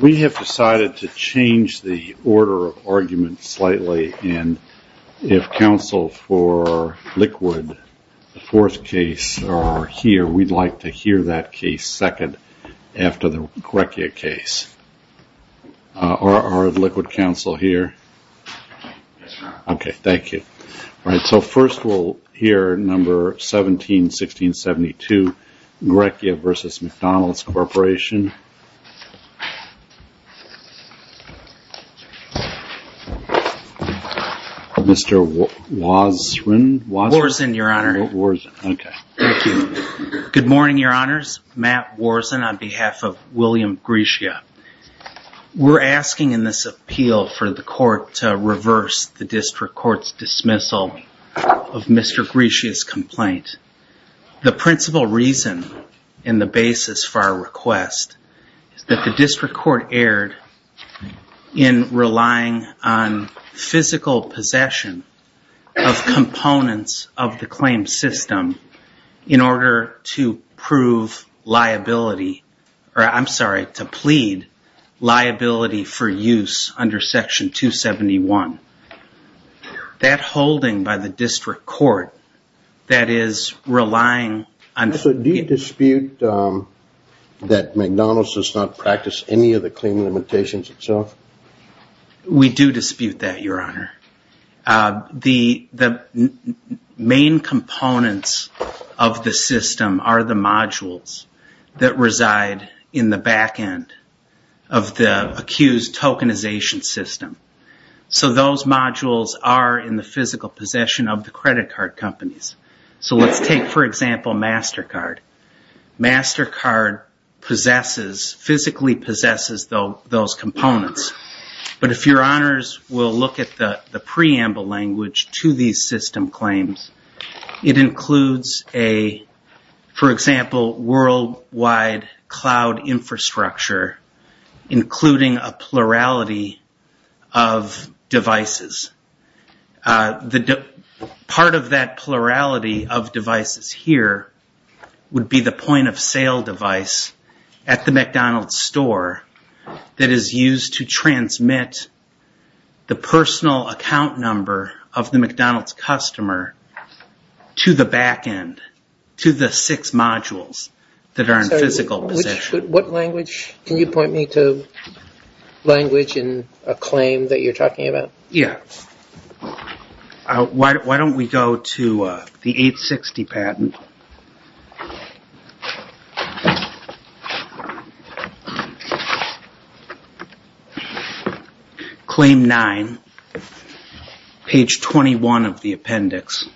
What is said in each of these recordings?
We have decided to change the order of argument slightly and if counsel for Liquid, the fourth case, are here we'd like to hear that case second after the Grecia case. Are Liquid counsel here? Okay, thank you. All right, so first we'll hear number 17-16-72, Grecia v. McDonald's Corporation. Mr. Wozwin? Wozwin, your honor. Good morning, your honors. Matt Wozwin on behalf of William Grecia. We're asking in this appeal for the court to reverse the district court's dismissal of Mr. Grecia's complaint. The principal reason and the basis for our request is that the district court erred in relying on physical possession of components of the claim system in order to prove liability, or I'm sorry, to plead liability for use under section 271. That holding by the district court that is relying on... So do you dispute that McDonald's does not practice any of the claim limitations itself? We do dispute that, your honor. The main components of the system are the modules that reside in the back end of the accused tokenization system. So those modules are in the physical possession of the credit card companies. So let's take, for example, MasterCard. MasterCard physically possesses those components, but if your honors will look at the preamble language to these system claims, it includes a, for example, worldwide cloud infrastructure including a plurality of devices. Part of that plurality of devices here would be the point-of-sale device at the McDonald's store that is used to transmit the personal account number of the McDonald's customer to the back end, to the six modules that are in physical possession. What language, can you point me to language in a claim that you're talking about? Yeah. Why don't we go to the 860 patent. Claim 9, page 21 of the appendix.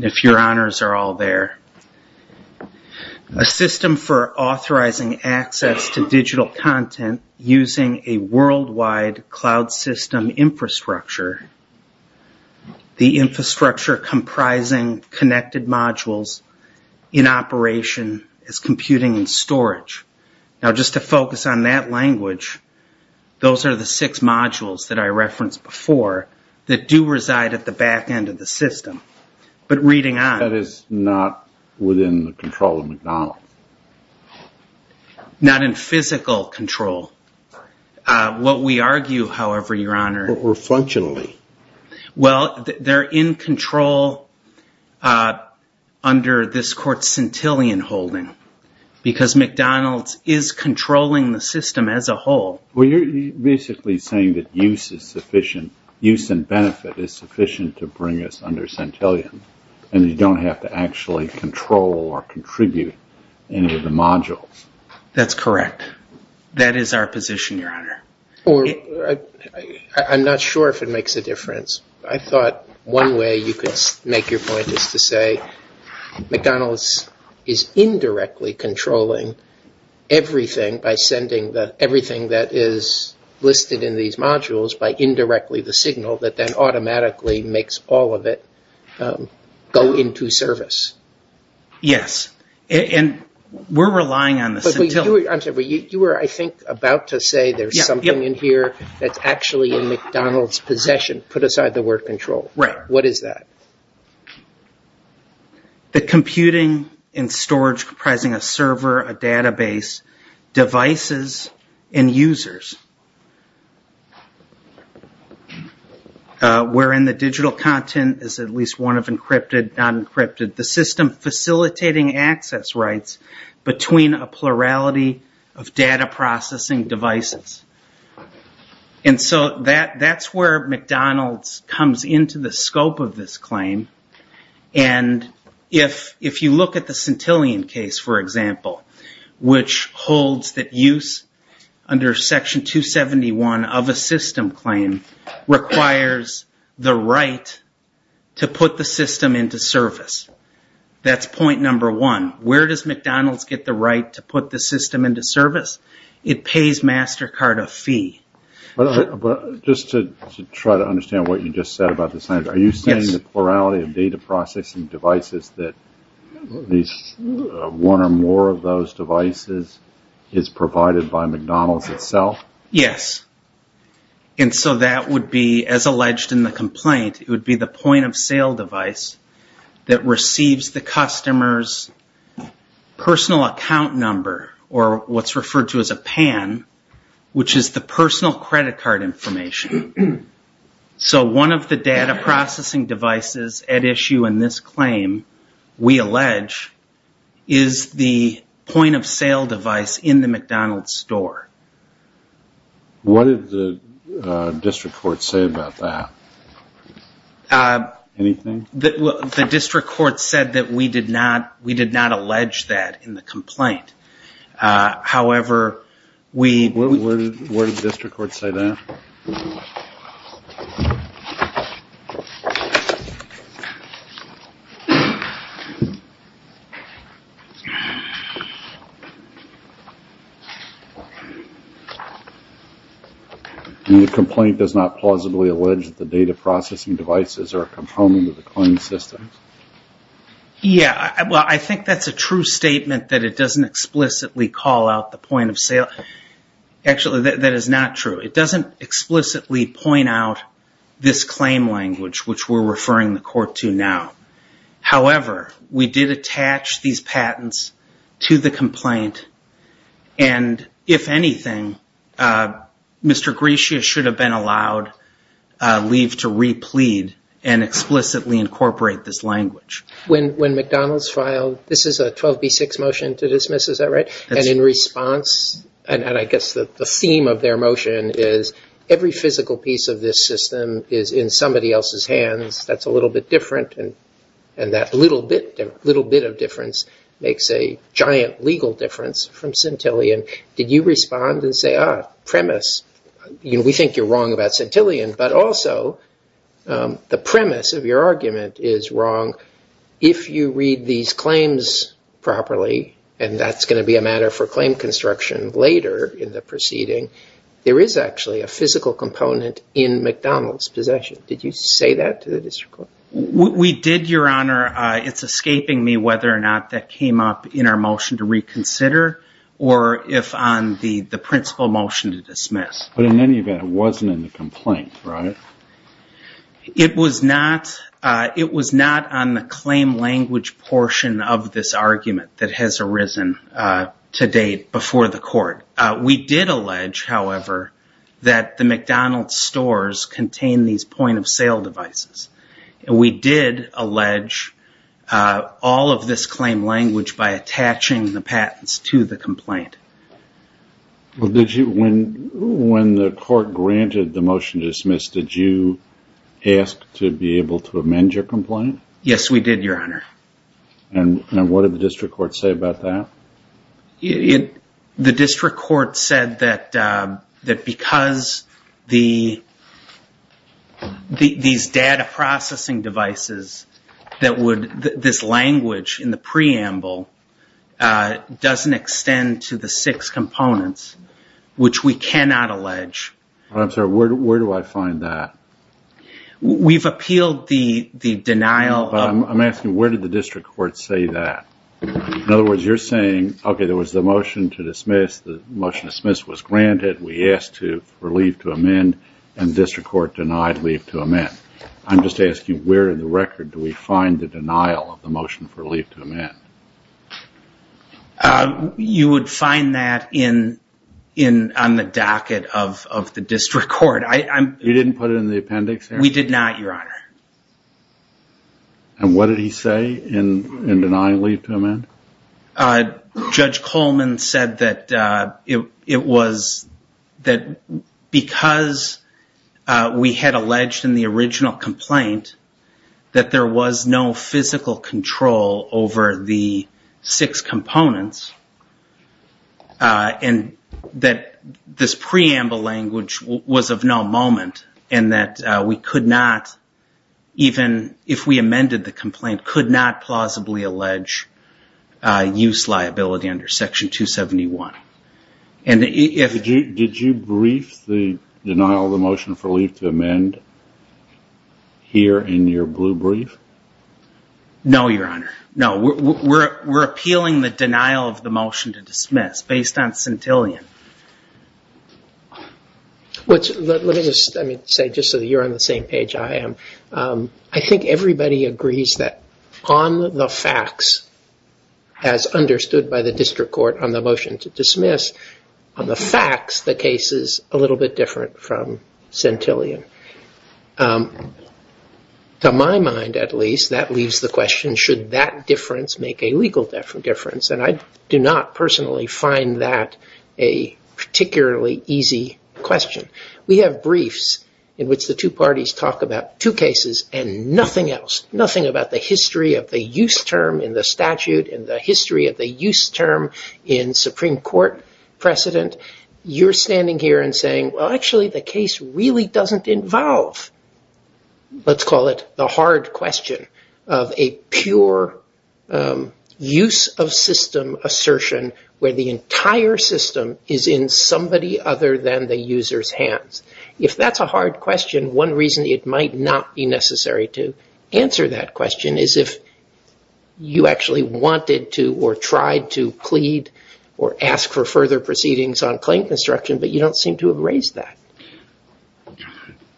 If your honors are all there. A system for authorizing access to digital content using a worldwide cloud system infrastructure. The infrastructure comprising connected modules in operation as computing and storage. Now just to focus on that language, those are the six modules that I referenced before that do reside at the back end of the system, not within the control of McDonald's. Not in physical control. What we argue, however, your honor. Or functionally. Well, they're in control under this court's centillion holding because McDonald's is controlling the system as a whole. Well, you're basically saying that use is sufficient, use and benefit is sufficient to bring us under centillion and you don't have to actually control or contribute any of the modules. That's correct. That is our position, your honor. I'm not sure if it makes a difference. I thought one way you could make your point is to say McDonald's is indirectly controlling everything by sending everything that is listed in these modules by indirectly the signal that automatically makes all of it go into service. Yes, and we're relying on this. You were, I think, about to say there's something in here that's actually in McDonald's possession. Put aside the word control. Right. What is that? The computing and storage comprising a server, a database, devices and users. We're in the digital content is at least one of encrypted, non-encrypted. The system facilitating access rights between a plurality of data processing devices. That's where McDonald's comes into the scope of this claim. If you look at the centillion case, for example, which holds that use under section 271 of a system claim requires the right to put the system into service. That's point number one. Where does McDonald's get the right to put the system into service? It pays MasterCard a fee. Just to try to understand what you just said about the sign. Are you saying the plurality of data processing devices that one or more of those devices is provided by McDonald's itself? Yes, and so that would be, as alleged in the complaint, it would be the point of sale device that receives the customer's personal account number or what's referred to as a PAN. Which is the personal credit card information. So one of the data processing devices at issue in this claim, we allege, is the point of sale device in the McDonald's store. What did the district court say about that? Anything? The district court said that we did not allege that in the complaint. However, we Where did the district court say that? The complaint does not plausibly allege that the data processing devices are a component of the claim system. Yeah, well I think that's a true statement that it Actually, that is not true. It doesn't explicitly point out this claim language which we're referring the court to now. However, we did attach these patents to the complaint and, if anything, Mr. Grecia should have been allowed leave to replead and explicitly incorporate this language. When McDonald's filed, this is the theme of their motion is every physical piece of this system is in somebody else's hands. That's a little bit different and that little bit little bit of difference makes a giant legal difference from Centillion. Did you respond and say, ah, premise, you know, we think you're wrong about Centillion, but also the premise of your argument is wrong if you read these claims properly and that's going to be a matter for claim construction later in the proceeding. There is actually a physical component in McDonald's possession. Did you say that to the district court? We did, your honor. It's escaping me whether or not that came up in our motion to reconsider or if on the the principal motion to dismiss. But in any event, it wasn't in the complaint, right? It was not, it has arisen to date before the court. We did allege, however, that the McDonald's stores contain these point-of-sale devices. We did allege all of this claim language by attaching the patents to the complaint. When the court granted the motion to dismiss, did you ask to be able to amend your complaint? Yes, we did, your honor. And what did the district court say about that? The district court said that because these data processing devices that would, this language in the preamble doesn't extend to the six components, which we cannot I'm asking where did the district court say that? In other words, you're saying, okay, there was the motion to dismiss, the motion to dismiss was granted, we asked for leave to amend, and the district court denied leave to amend. I'm just asking where in the record do we find the denial of the motion for leave to amend? You would find that on the docket of the district court. You didn't put it in the appendix? We did not, your honor. And what did he say in denying leave to amend? Judge Coleman said that it was that because we had alleged in the original complaint that there was no physical control over the six components and that this preamble language was of no moment and that we could not, even if we amended the complaint, could not plausibly allege use liability under section 271. Did you brief the denial of the motion for leave to amend here in your the motion to dismiss based on centillion? Let me just say, just so you're on the same page I am, I think everybody agrees that on the facts as understood by the district court on the motion to dismiss, on the facts the case is a little bit different from centillion. To my mind, at least, that leaves the question should that difference make a legal difference? And I do not personally find that a particularly easy question. We have briefs in which the two parties talk about two cases and nothing else, nothing about the history of the use term in the statute and the history of the use term in Supreme Court precedent. You're standing here and saying, well, actually the case really doesn't involve, let's call it, the hard question of a pure use of system assertion where the entire system is in somebody other than the user's hands. If that's a hard question, one reason it might not be necessary to answer that question is if you actually wanted to or tried to plead or ask for further proceedings on claim construction but you don't seem to have raised that.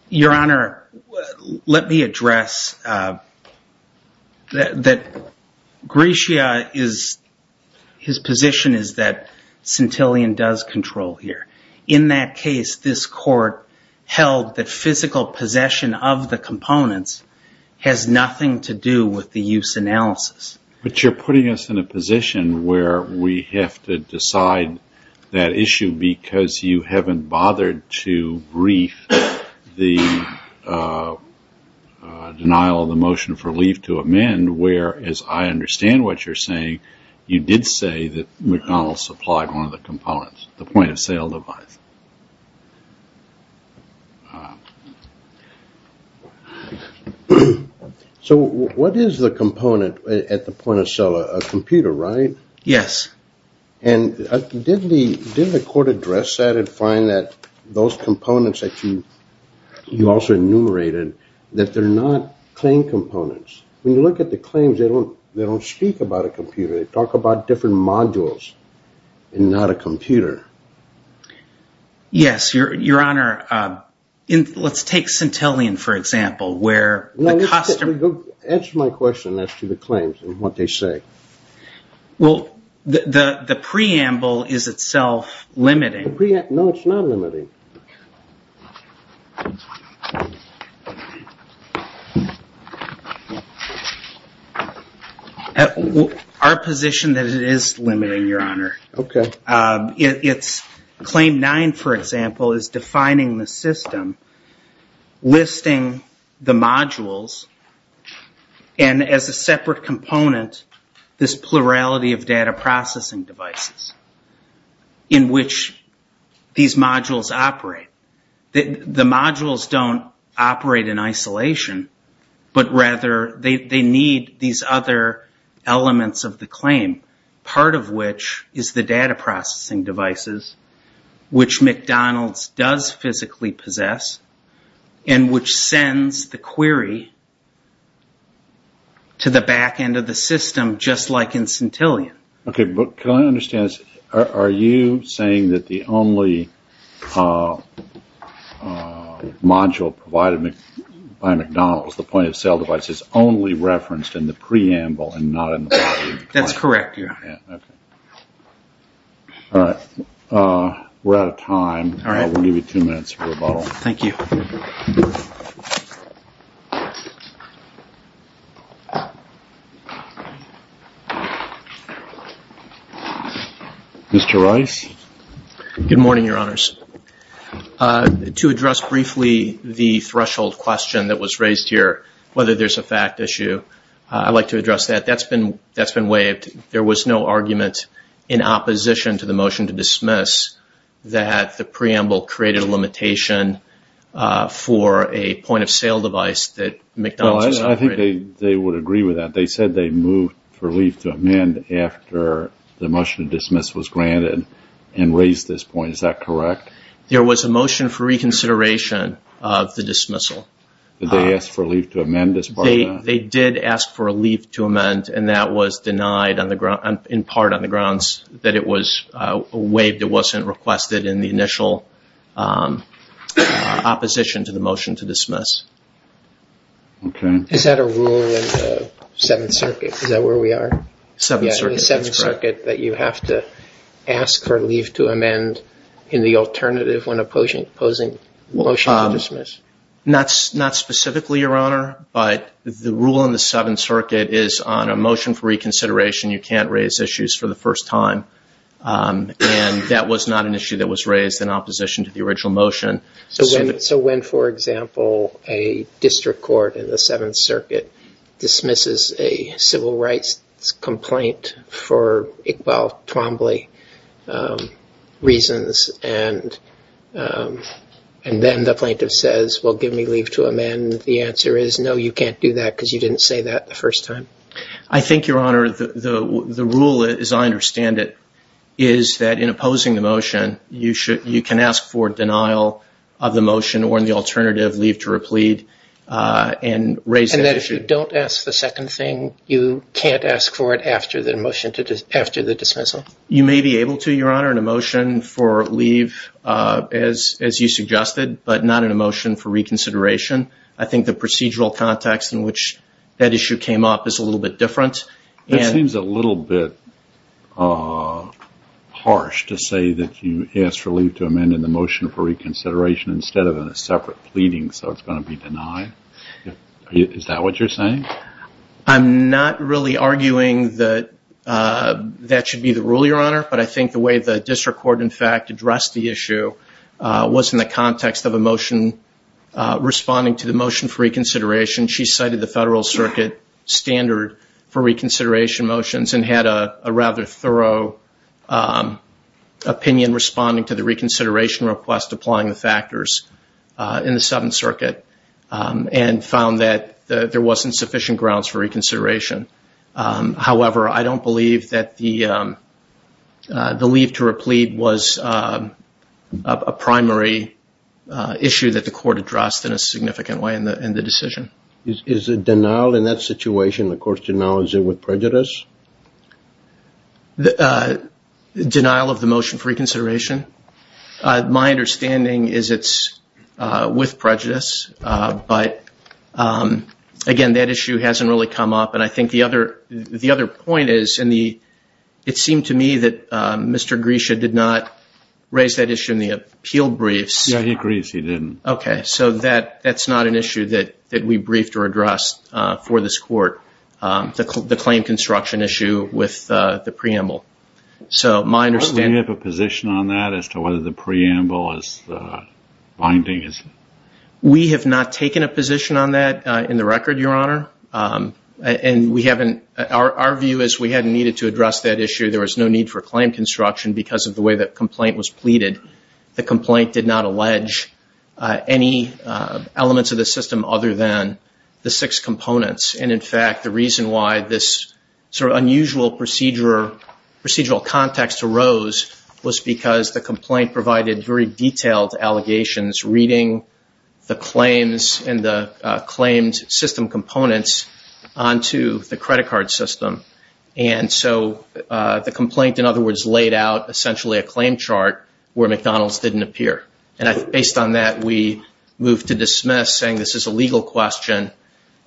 Your Honor, let me address that Gratia is, his position is that centillion does control here. In that case, this court held that physical possession of the components has nothing to do with the use analysis. But you're putting us in a position where we have to decide that issue because you haven't bothered to brief the denial of the motion for leave to amend where, as I understand what you're saying, you did say that McConnell supplied one of the components, the point-of-sale device. So what is the address that and find that those components that you also enumerated that they're not claim components. When you look at the claims, they don't speak about a computer. They talk about different modules and not a computer. Yes, Your Honor. Let's take centillion, for example, where the custom... Answer my question as to the claims and what they say. Well, the preamble is itself limiting. No, it's not limiting. Our position that it is limiting, Your Honor. Okay. It's claim nine, for example, is defining the system, listing the modules, and as a separate component, this plurality of data processing devices. In which these modules operate. The modules don't operate in isolation, but rather they need these other elements of the claim. Part of which is the data processing devices, which McDonald's does physically possess, and which sends the query to the back end of the system, just like in centillion. Okay, but can I understand this? Are you saying that the only module provided by McDonald's, the point of sale device, is only referenced in the preamble and not in the... That's correct, Your Honor. Okay. All right. We're out of time. All right. I'll give you two more minutes. Thank you. Mr. Rice? Good morning, Your Honors. To address briefly the threshold question that was raised here, whether there's a fact issue, I'd like to address that. That's been waived. There was no argument in opposition to the motion for a point of sale device that McDonald's is operating. I think they would agree with that. They said they moved for a leave to amend after the motion of dismissal was granted and raised this point. Is that correct? There was a motion for reconsideration of the dismissal. Did they ask for a leave to amend as part of that? They did ask for a leave to amend, and that was denied in part on the request that in the initial opposition to the motion to dismiss. Okay. Is that a rule in the Seventh Circuit? Is that where we are? The Seventh Circuit, that you have to ask for leave to amend in the alternative when opposing motion to dismiss? Not specifically, Your Honor, but the rule in the Seventh Circuit is on a motion for reconsideration, you can't raise issues for the first time, and that was not an issue that was raised in opposition to the original motion. So when, for example, a district court in the Seventh Circuit dismisses a civil rights complaint for Iqbal Twombly reasons, and then the plaintiff says, well, give me leave to amend, the answer is no, you can't do that because you didn't say that the first time. I think, Your Honor, the rule, as I You can ask for denial of the motion or, in the alternative, leave to replead and raise that issue. And if you don't ask the second thing, you can't ask for it after the motion, after the dismissal? You may be able to, Your Honor, in a motion for leave, as you suggested, but not in a motion for reconsideration. I think the procedural context in which that issue came up is a little bit different. It you asked for leave to amend in the motion for reconsideration instead of in a separate pleading, so it's going to be denied. Is that what you're saying? I'm not really arguing that that should be the rule, Your Honor, but I think the way the district court, in fact, addressed the issue was in the context of a motion responding to the motion for reconsideration. She cited the Federal Circuit standard for reconsideration motions and had a rather thorough opinion responding to the reconsideration request applying the factors in the Seventh Circuit, and found that there wasn't sufficient grounds for reconsideration. However, I don't believe that the leave to replead was a primary issue that the court addressed in a significant way in the decision. Is the denial in that situation, the court's denial, is it with denial of the motion for reconsideration? My understanding is it's with prejudice, but again, that issue hasn't really come up, and I think the other point is, and it seemed to me that Mr. Grisha did not raise that issue in the appeal briefs. Yeah, he agrees he didn't. Okay, so that that's not an issue that that we briefed or addressed for this court, the claim construction issue with the preamble. So my understanding... Do we have a position on that as to whether the preamble is binding? We have not taken a position on that in the record, Your Honor, and we haven't, our view is we hadn't needed to address that issue. There was no need for claim construction because of the way that complaint was pleaded. The complaint did not allege any elements of the system other than the six components, and in fact, the reason why this sort of unusual procedural context arose was because the complaint provided very detailed allegations, reading the claims and the claimed system components onto the credit card system, and so the complaint, in other words, laid out essentially a claim chart where McDonald's didn't appear, and based on that, we moved to dismiss, saying this is a legal question.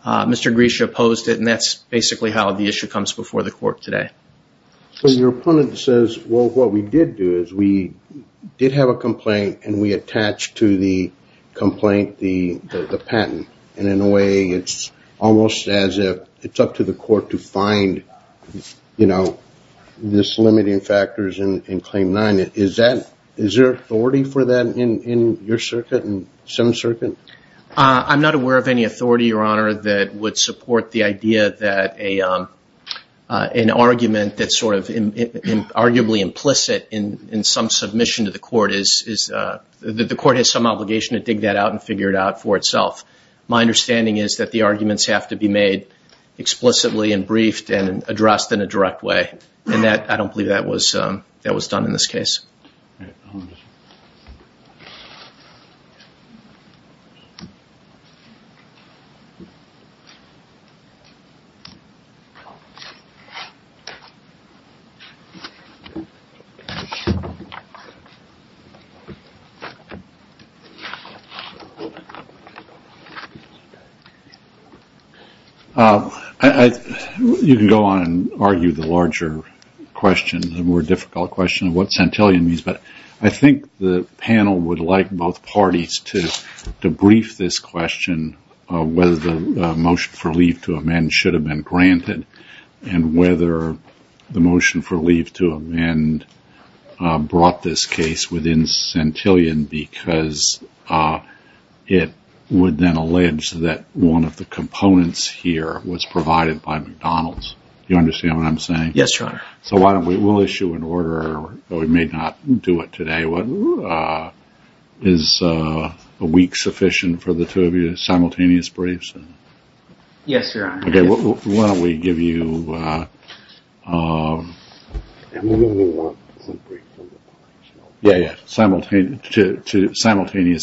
Mr. Grisha opposed it, and that's basically how the issue comes before the court today. So your opponent says, well, what we did do is we did have a complaint and we attached to the complaint the patent, and in a way, it's almost as if it's up to the court to find, you know, this limiting factors in Claim 9. Is that, is there authority for that in your circuit and some circuit? I'm not aware of any authority, Your Honor, that would support the idea that an argument that's sort of arguably implicit in some submission to the court is that the court has some obligation to dig that out and figure it out for itself. My understanding is that the arguments have to be made explicitly and briefed and addressed in a direct way, and that, I don't believe that was done in this case. You can go on and argue the larger question, the more difficult question of what centellian means, but I think the panel would like both parties to brief this question of whether the motion for leave to amend should have been granted and whether the motion for leave to amend brought this case within centellian because it would then allege that one of the components here was provided by McDonald's. You understand what I'm saying? Yes, Your Honor. So why don't we, we'll issue an order, we may not do it today, is a week sufficient for the two of you, simultaneous briefs? Yes, Your Honor. Okay, why don't we give you, yeah, yeah, simultaneous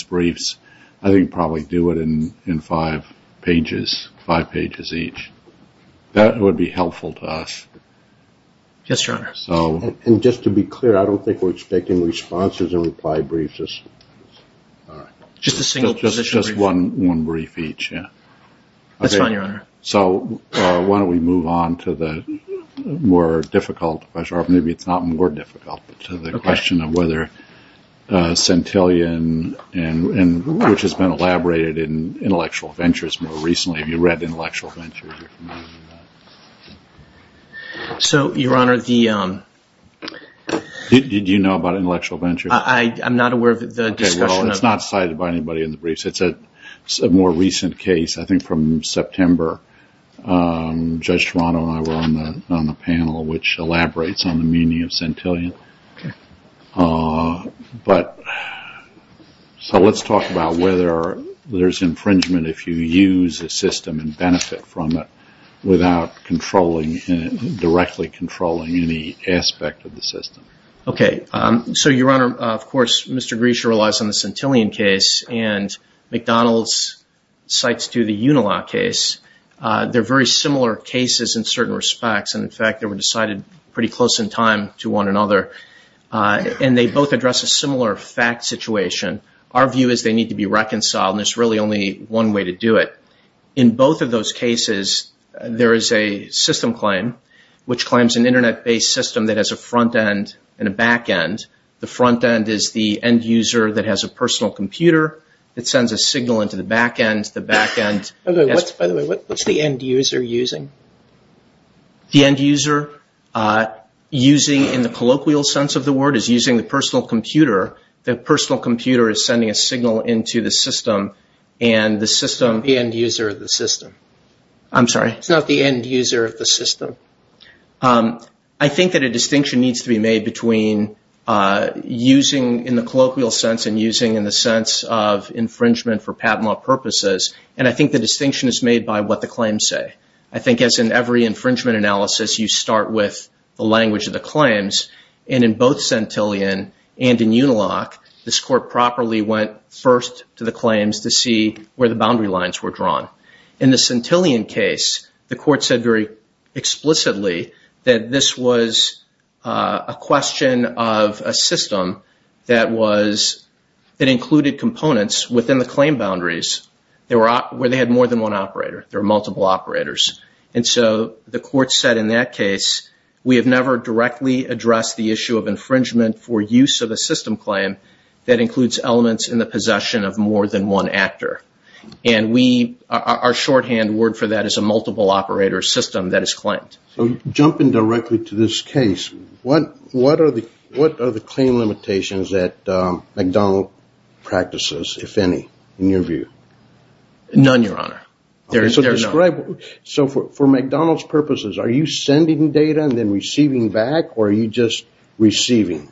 briefs. I think probably do it in five pages, five pages each. That would be helpful to us. Yes, Your Honor. And just to be clear, I don't think we're expecting responses and reply briefs. Just a single position. Just one brief each, yeah. That's fine, Your Honor. So why don't we move on to the more difficult question, or maybe it's not more difficult, to the question of whether centellian, and which has been elaborated in intellectual ventures more recently. Have you read intellectual ventures? So, Your Honor, the... Did you know about intellectual ventures? I'm not aware of the discussion. Well, it's not cited by anybody in the briefs. It's a more recent case, I think from September. Judge Toronto and I were on the panel, which elaborates on the meaning of centellian. But, so let's talk about whether there's infringement if you use a system and benefit from it without controlling, directly controlling any aspect of the system. Okay, so, Your Honor, if you look at McDonald's' cites to the Unilaw case, they're very similar cases in certain respects, and in fact, they were decided pretty close in time to one another. And they both address a similar fact situation. Our view is they need to be reconciled, and there's really only one way to do it. In both of those cases, there is a system claim, which claims an internet-based system that has a front end and a back end. The front end is the end user that has a personal computer, that sends a signal into the back end. By the way, what's the end user using? The end user, using in the colloquial sense of the word, is using the personal computer. The personal computer is sending a signal into the system, and the system... The end user of the system. I'm sorry? It's not the end user of the system. I think that a distinction needs to be made between using in the colloquial sense and using in the sense of infringement for patent law purposes, and I think the distinction is made by what the claims say. I think as in every infringement analysis, you start with the language of the claims, and in both Centillion and in Unilock, this court properly went first to the claims to see where the boundary lines were drawn. In the Centillion case, the court said very explicitly that this was a question of a system that included components within the claim boundaries where they had more than one operator. There are multiple operators, and so the court said in that case, we have never directly addressed the issue of infringement for use of a system claim that includes elements in the possession of more than one actor, and our shorthand word for that is a system. In this case, what are the claim limitations that McDonald practices, if any, in your view? None, Your Honor. So for McDonald's purposes, are you sending data and then receiving back, or are you just receiving?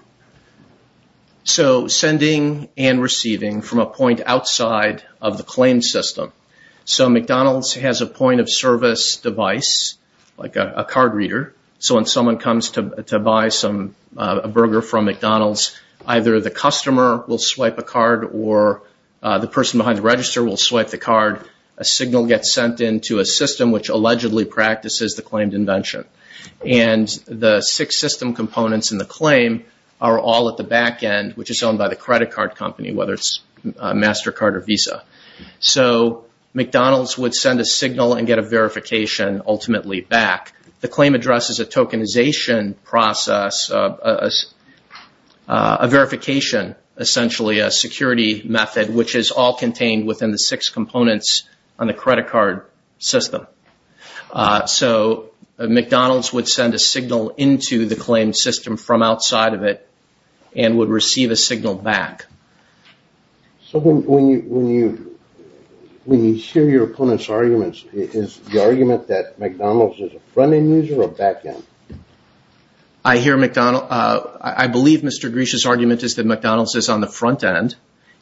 So sending and receiving from a point outside of the claim system. So McDonald's has a point-of-service device, like a card reader, so when someone comes to buy a burger from McDonald's, either the customer will swipe a card or the person behind the register will swipe the card. A signal gets sent into a system which allegedly practices the claimed invention, and the six system components in the claim are all at the back end, which is owned by the credit card company, whether it's MasterCard or CreditCard, and the claim addresses a tokenization process, a verification, essentially a security method, which is all contained within the six components on the credit card system. So McDonald's would send a signal into the claim system from outside of it and would receive a signal back. So when you hear your opponent's arguments, is the argument that McDonald's is a front-end user or back-end? I believe Mr. Grish's argument is that McDonald's is on the front-end,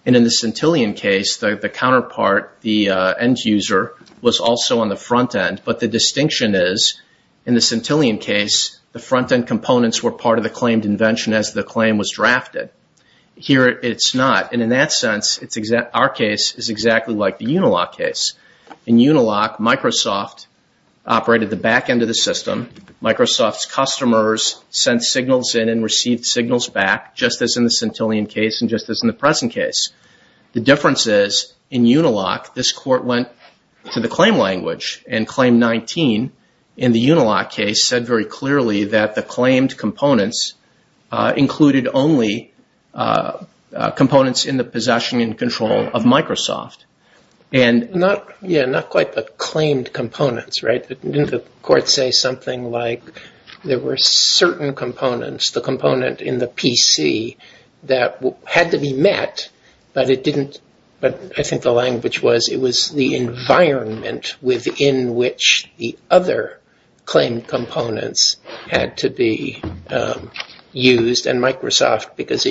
and in the Centillion case, the counterpart, the end user, was also on the front-end. But the distinction is, in the Centillion case, the front-end components were part of the claimed invention as the claim was drafted. Here it's not, and in that sense, our case is exactly like the Unilock. In Unilock, Microsoft operated the back end of the system. Microsoft's customers sent signals in and received signals back, just as in the Centillion case and just as in the present case. The difference is, in Unilock, this court went to the claim language, and Claim 19 in the Unilock case said very clearly that the claimed components included only components in the Unilock case. Yeah, not quite the claimed components, right? Didn't the court say something like there were certain components, the component in the PC, that had to be met, but it didn't, but I think the language was, it was the environment within which the other claimed components had to be used, and Microsoft because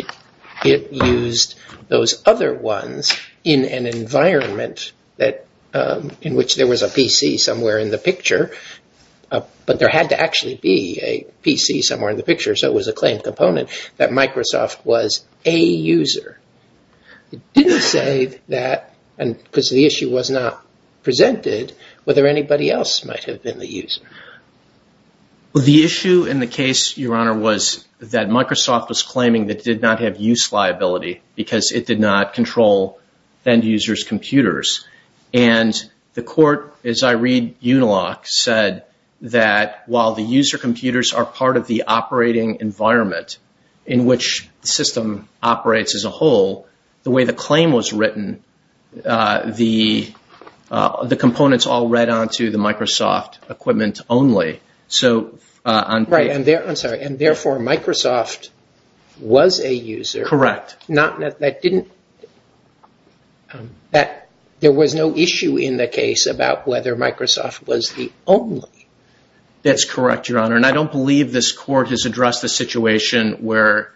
it used those other ones in an environment that, in which there was a PC somewhere in the picture, but there had to actually be a PC somewhere in the picture, so it was a claimed component, that Microsoft was a user. It didn't say that, and because the issue was not presented, whether anybody else might have been the user. The issue in the case, Your Honor, was that Microsoft was claiming that it did not have use liability, because it did not control end-users' computers, and the court, as I read Unilock, said that while the user computers are part of the operating environment in which the system operates as a whole, the way the claim was written, the components all read on to the Microsoft was a user. Correct. Not, that didn't, that there was no issue in the case about whether Microsoft was the only. That's correct, Your Honor, and I don't believe this court has addressed the situation where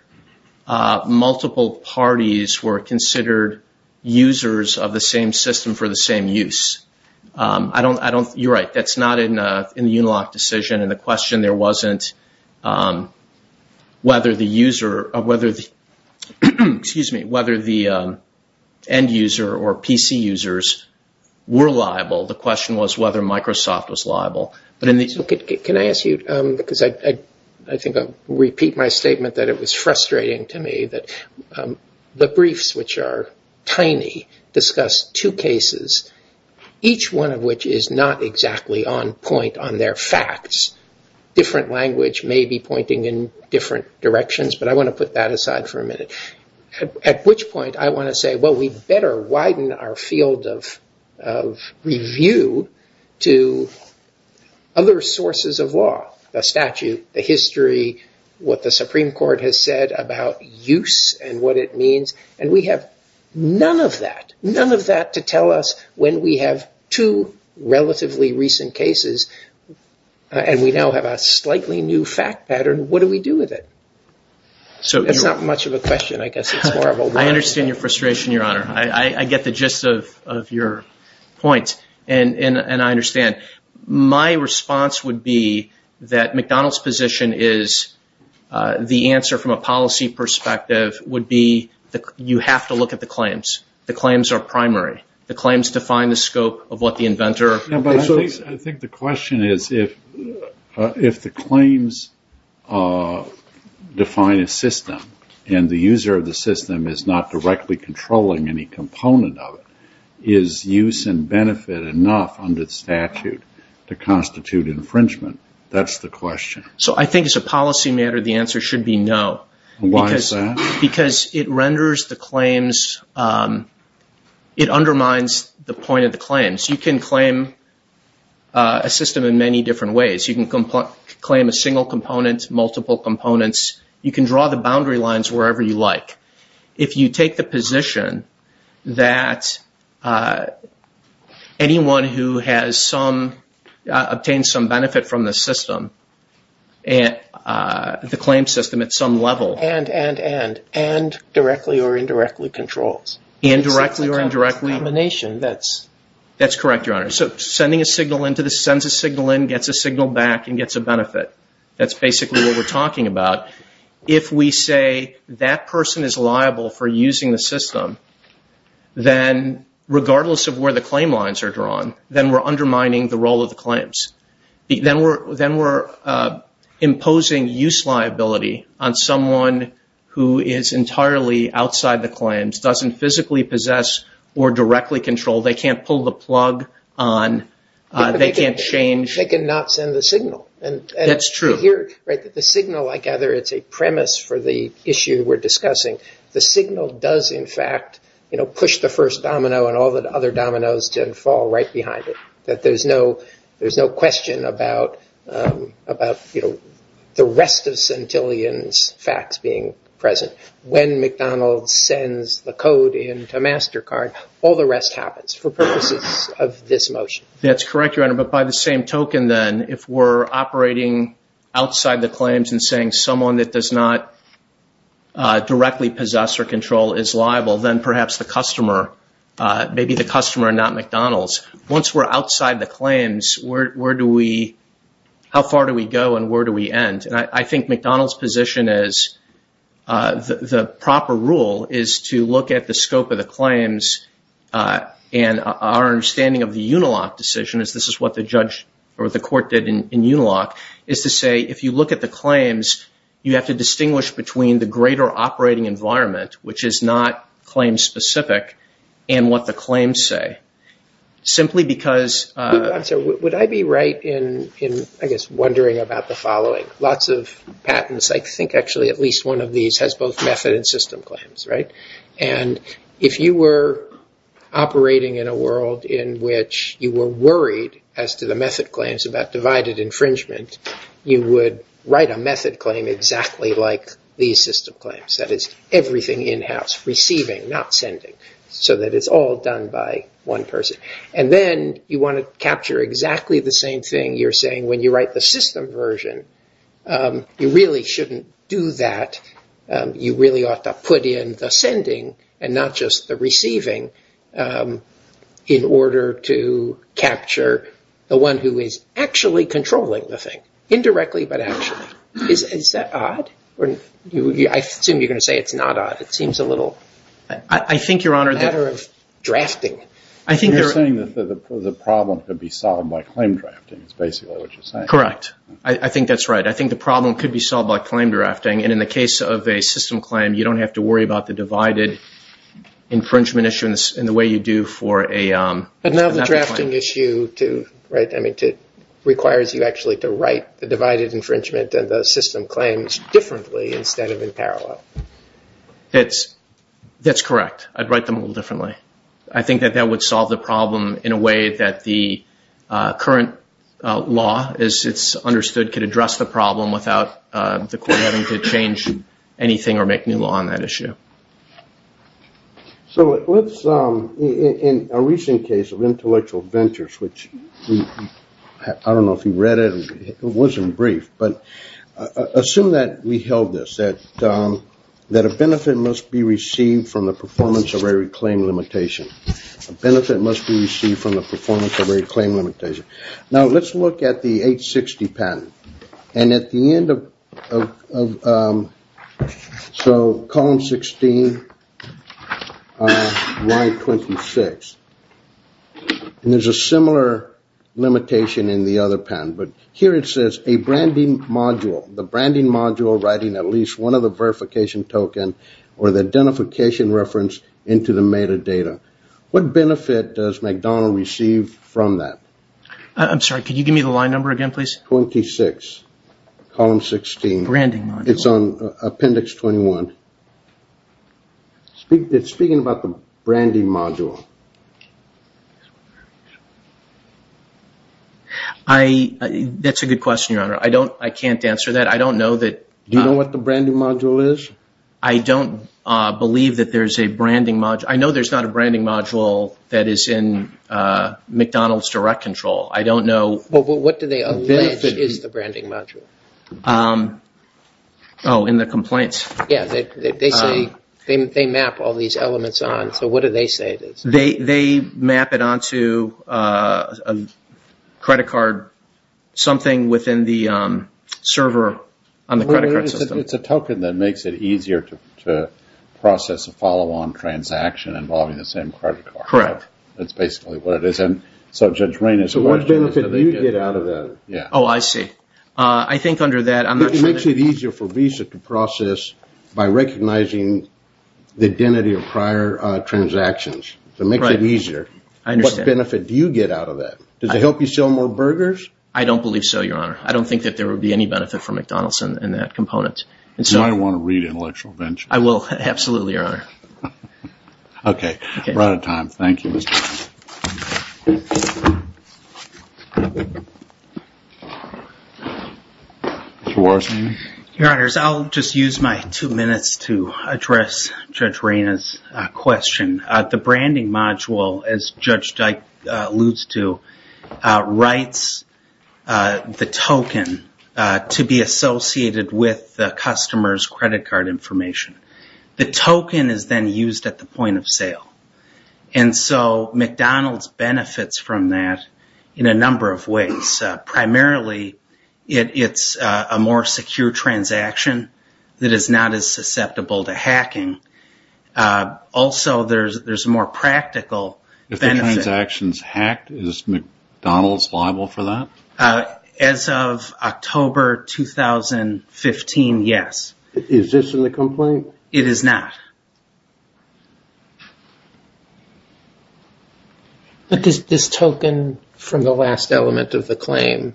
multiple parties were considered users of the same system for the same use. I don't, I don't, you're right, that's not in the Unilock decision, and the question there wasn't whether the user, whether the, excuse me, whether the end-user or PC users were liable. The question was whether Microsoft was liable, but in the... Can I ask you, because I think I'll repeat my statement that it was frustrating to me, that the briefs, which are tiny, discuss two cases, each one of which is not exactly on point on their facts. Different language may be pointing in different directions, but I want to put that aside for a minute, at which point I want to say, well, we'd better widen our field of review to other sources of law, the statute, the history, what the Supreme Court has said about use and what it means, and we have none of that, none of that to tell us when we have two relatively recent cases and we now have a slightly new fact pattern, what do we do with it? So it's not much of a question, I guess. I understand your frustration, Your Honor. I get the gist of your point, and I understand. My response would be that McDonald's position is, the answer from a policy perspective, would be that you have to look at the claims. The claims are primary. The claims define the scope of what the inventor... I think the question is, if the claims define a system and the user of the system is not directly controlling any component of it, is use and benefit enough under the statute to constitute infringement? That's the question. So I think as a policy matter, the answer should be no. Why is that? Because it renders the claims... it undermines the point of the claims. You can claim a system in many different ways. You can claim a single component, multiple components. You can draw the boundary lines wherever you like. If you take the position that anyone who has some... obtained some level... And, and, and, and directly or indirectly controls. Indirectly or indirectly... That's combination. That's correct, Your Honor. So sending a signal in to the... sends a signal in, gets a signal back, and gets a benefit. That's basically what we're talking about. If we say that person is liable for using the system, then regardless of where the claim lines are drawn, then we're undermining the role of the claims. Then we're imposing use liability on someone who is entirely outside the claims, doesn't physically possess or directly control. They can't pull the plug on... they can't change... They can not send the signal. That's true. Here, right, the signal, I gather, it's a premise for the issue we're discussing. The signal does in fact, you know, push the first domino and all the other dominoes to fall right behind it. That there's no, there's no question about, about, you know, the rest of Centillion's facts being present. When McDonald's sends the code into MasterCard, all the rest happens for purposes of this motion. That's correct, Your Honor, but by the same token then, if we're operating outside the claims and saying someone that does not directly possess or control is liable, then perhaps the claims, where do we, how far do we go and where do we end? And I think McDonald's position is, the proper rule is to look at the scope of the claims and our understanding of the Unilock decision, as this is what the judge or the court did in Unilock, is to say if you look at the claims, you have to distinguish between the greater operating environment, which is not claim specific, and what the I'm sorry, would I be right in, I guess, wondering about the following. Lots of patents, I think actually at least one of these has both method and system claims, right? And if you were operating in a world in which you were worried as to the method claims about divided infringement, you would write a method claim exactly like these system claims. That is, everything in-house, receiving, not sending, so that it's all done by one person. And then you want to capture exactly the same thing you're saying when you write the system version. You really shouldn't do that. You really ought to put in the sending and not just the receiving in order to capture the one who is actually controlling the thing, indirectly but actually. Is that odd? I assume you're gonna say it's a little matter of drafting. I think you're saying that the problem could be solved by claim drafting, is basically what you're saying. Correct. I think that's right. I think the problem could be solved by claim drafting. And in the case of a system claim, you don't have to worry about the divided infringement issue in the way you do for a method claim. But now the drafting issue, right, requires you actually to write the divided infringement and the system claims differently instead of in parallel. That's correct. I'd write them a little differently. I think that that would solve the problem in a way that the current law, as it's understood, could address the problem without the court having to change anything or make new law on that issue. So let's, in a recent case of intellectual ventures, which I don't know if you read it, it wasn't that we held this, that a benefit must be received from the performance of every claim limitation. A benefit must be received from the performance of every claim limitation. Now let's look at the 860 patent. And at the end of, so column 16, line 26, there's a similar limitation in the other patent. But here it says a branding module writing at least one of the verification token or the identification reference into the metadata. What benefit does McDonald receive from that? I'm sorry, could you give me the line number again, please? 26, column 16. Branding module. It's on appendix 21. It's speaking about the branding module. Do you know what the branding module is? I don't believe that there's a branding module. I know there's not a branding module that is in McDonald's direct control. I don't know. But what do they allege is the branding module? Oh, in the complaints. Yeah, they say, they map all these elements on. So what do they say it is? They map it onto a credit card, something within the server on the credit card system. It's a token that makes it easier to process a follow-on transaction involving the same credit card. Correct. That's basically what it is. And so Judge Rainer's question is... So what benefit do you get out of that? Yeah. Oh, I see. I think under that, I'm not sure... It makes it easier for Visa to process by recognizing the make it easier. I understand. What benefit do you get out of that? Does it help you sell more burgers? I don't believe so, Your Honor. I don't think that there would be any benefit from McDonald's in that component. And so... You might want to read Intellectual Ventures. I will. Absolutely, Your Honor. Okay. We're out of time. Thank you, Mr. Warren. Your Honors, I'll just use my two minutes to address Judge Rainer's question. The branding module, as Judge Dyke alludes to, writes the token to be associated with the customer's credit card information. The token is then used at the point of sale. And so McDonald's benefits from that in a number of ways. Primarily, it's a more secure transaction that is not as susceptible to fraud. Also, there's a more practical benefit. If the transaction is hacked, is McDonald's liable for that? As of October 2015, yes. Is this in the complaint? It is not. But this token from the last element of the claim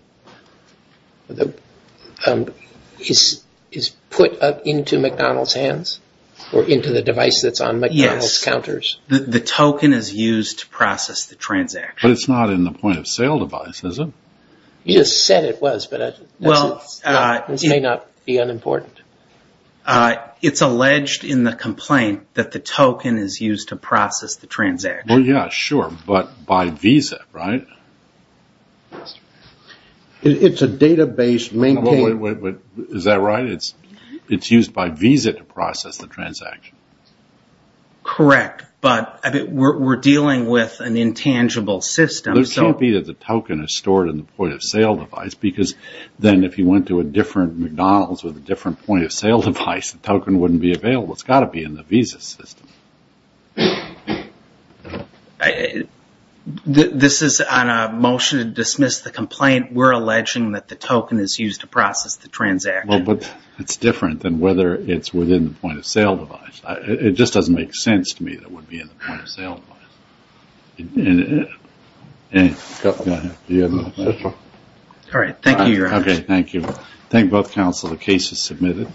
is put into McDonald's hands? Or into the device that's on McDonald's counters? Yes. The token is used to process the transaction. But it's not in the point-of-sale device, is it? You just said it was, but this may not be unimportant. It's alleged in the complaint that the token is used to process the transaction. Well, yeah, sure. But by Visa, right? It's a database maintained... Wait, is that right? It's used by Visa to process the transaction. Correct, but we're dealing with an intangible system. It can't be that the token is stored in the point-of-sale device, because then if you went to a different McDonald's with a different point-of-sale device, the token wouldn't be available. It's got to be in the Visa system. This is on a motion to dismiss the complaint. We're alleging that the token is used to process the transaction. Well, but it's different than whether it's within the point-of-sale device. It just doesn't make sense to me that it would be in the point-of-sale device. All right, thank you, Your Honor. Okay, thank you. I thank both counsel. The case is submitted.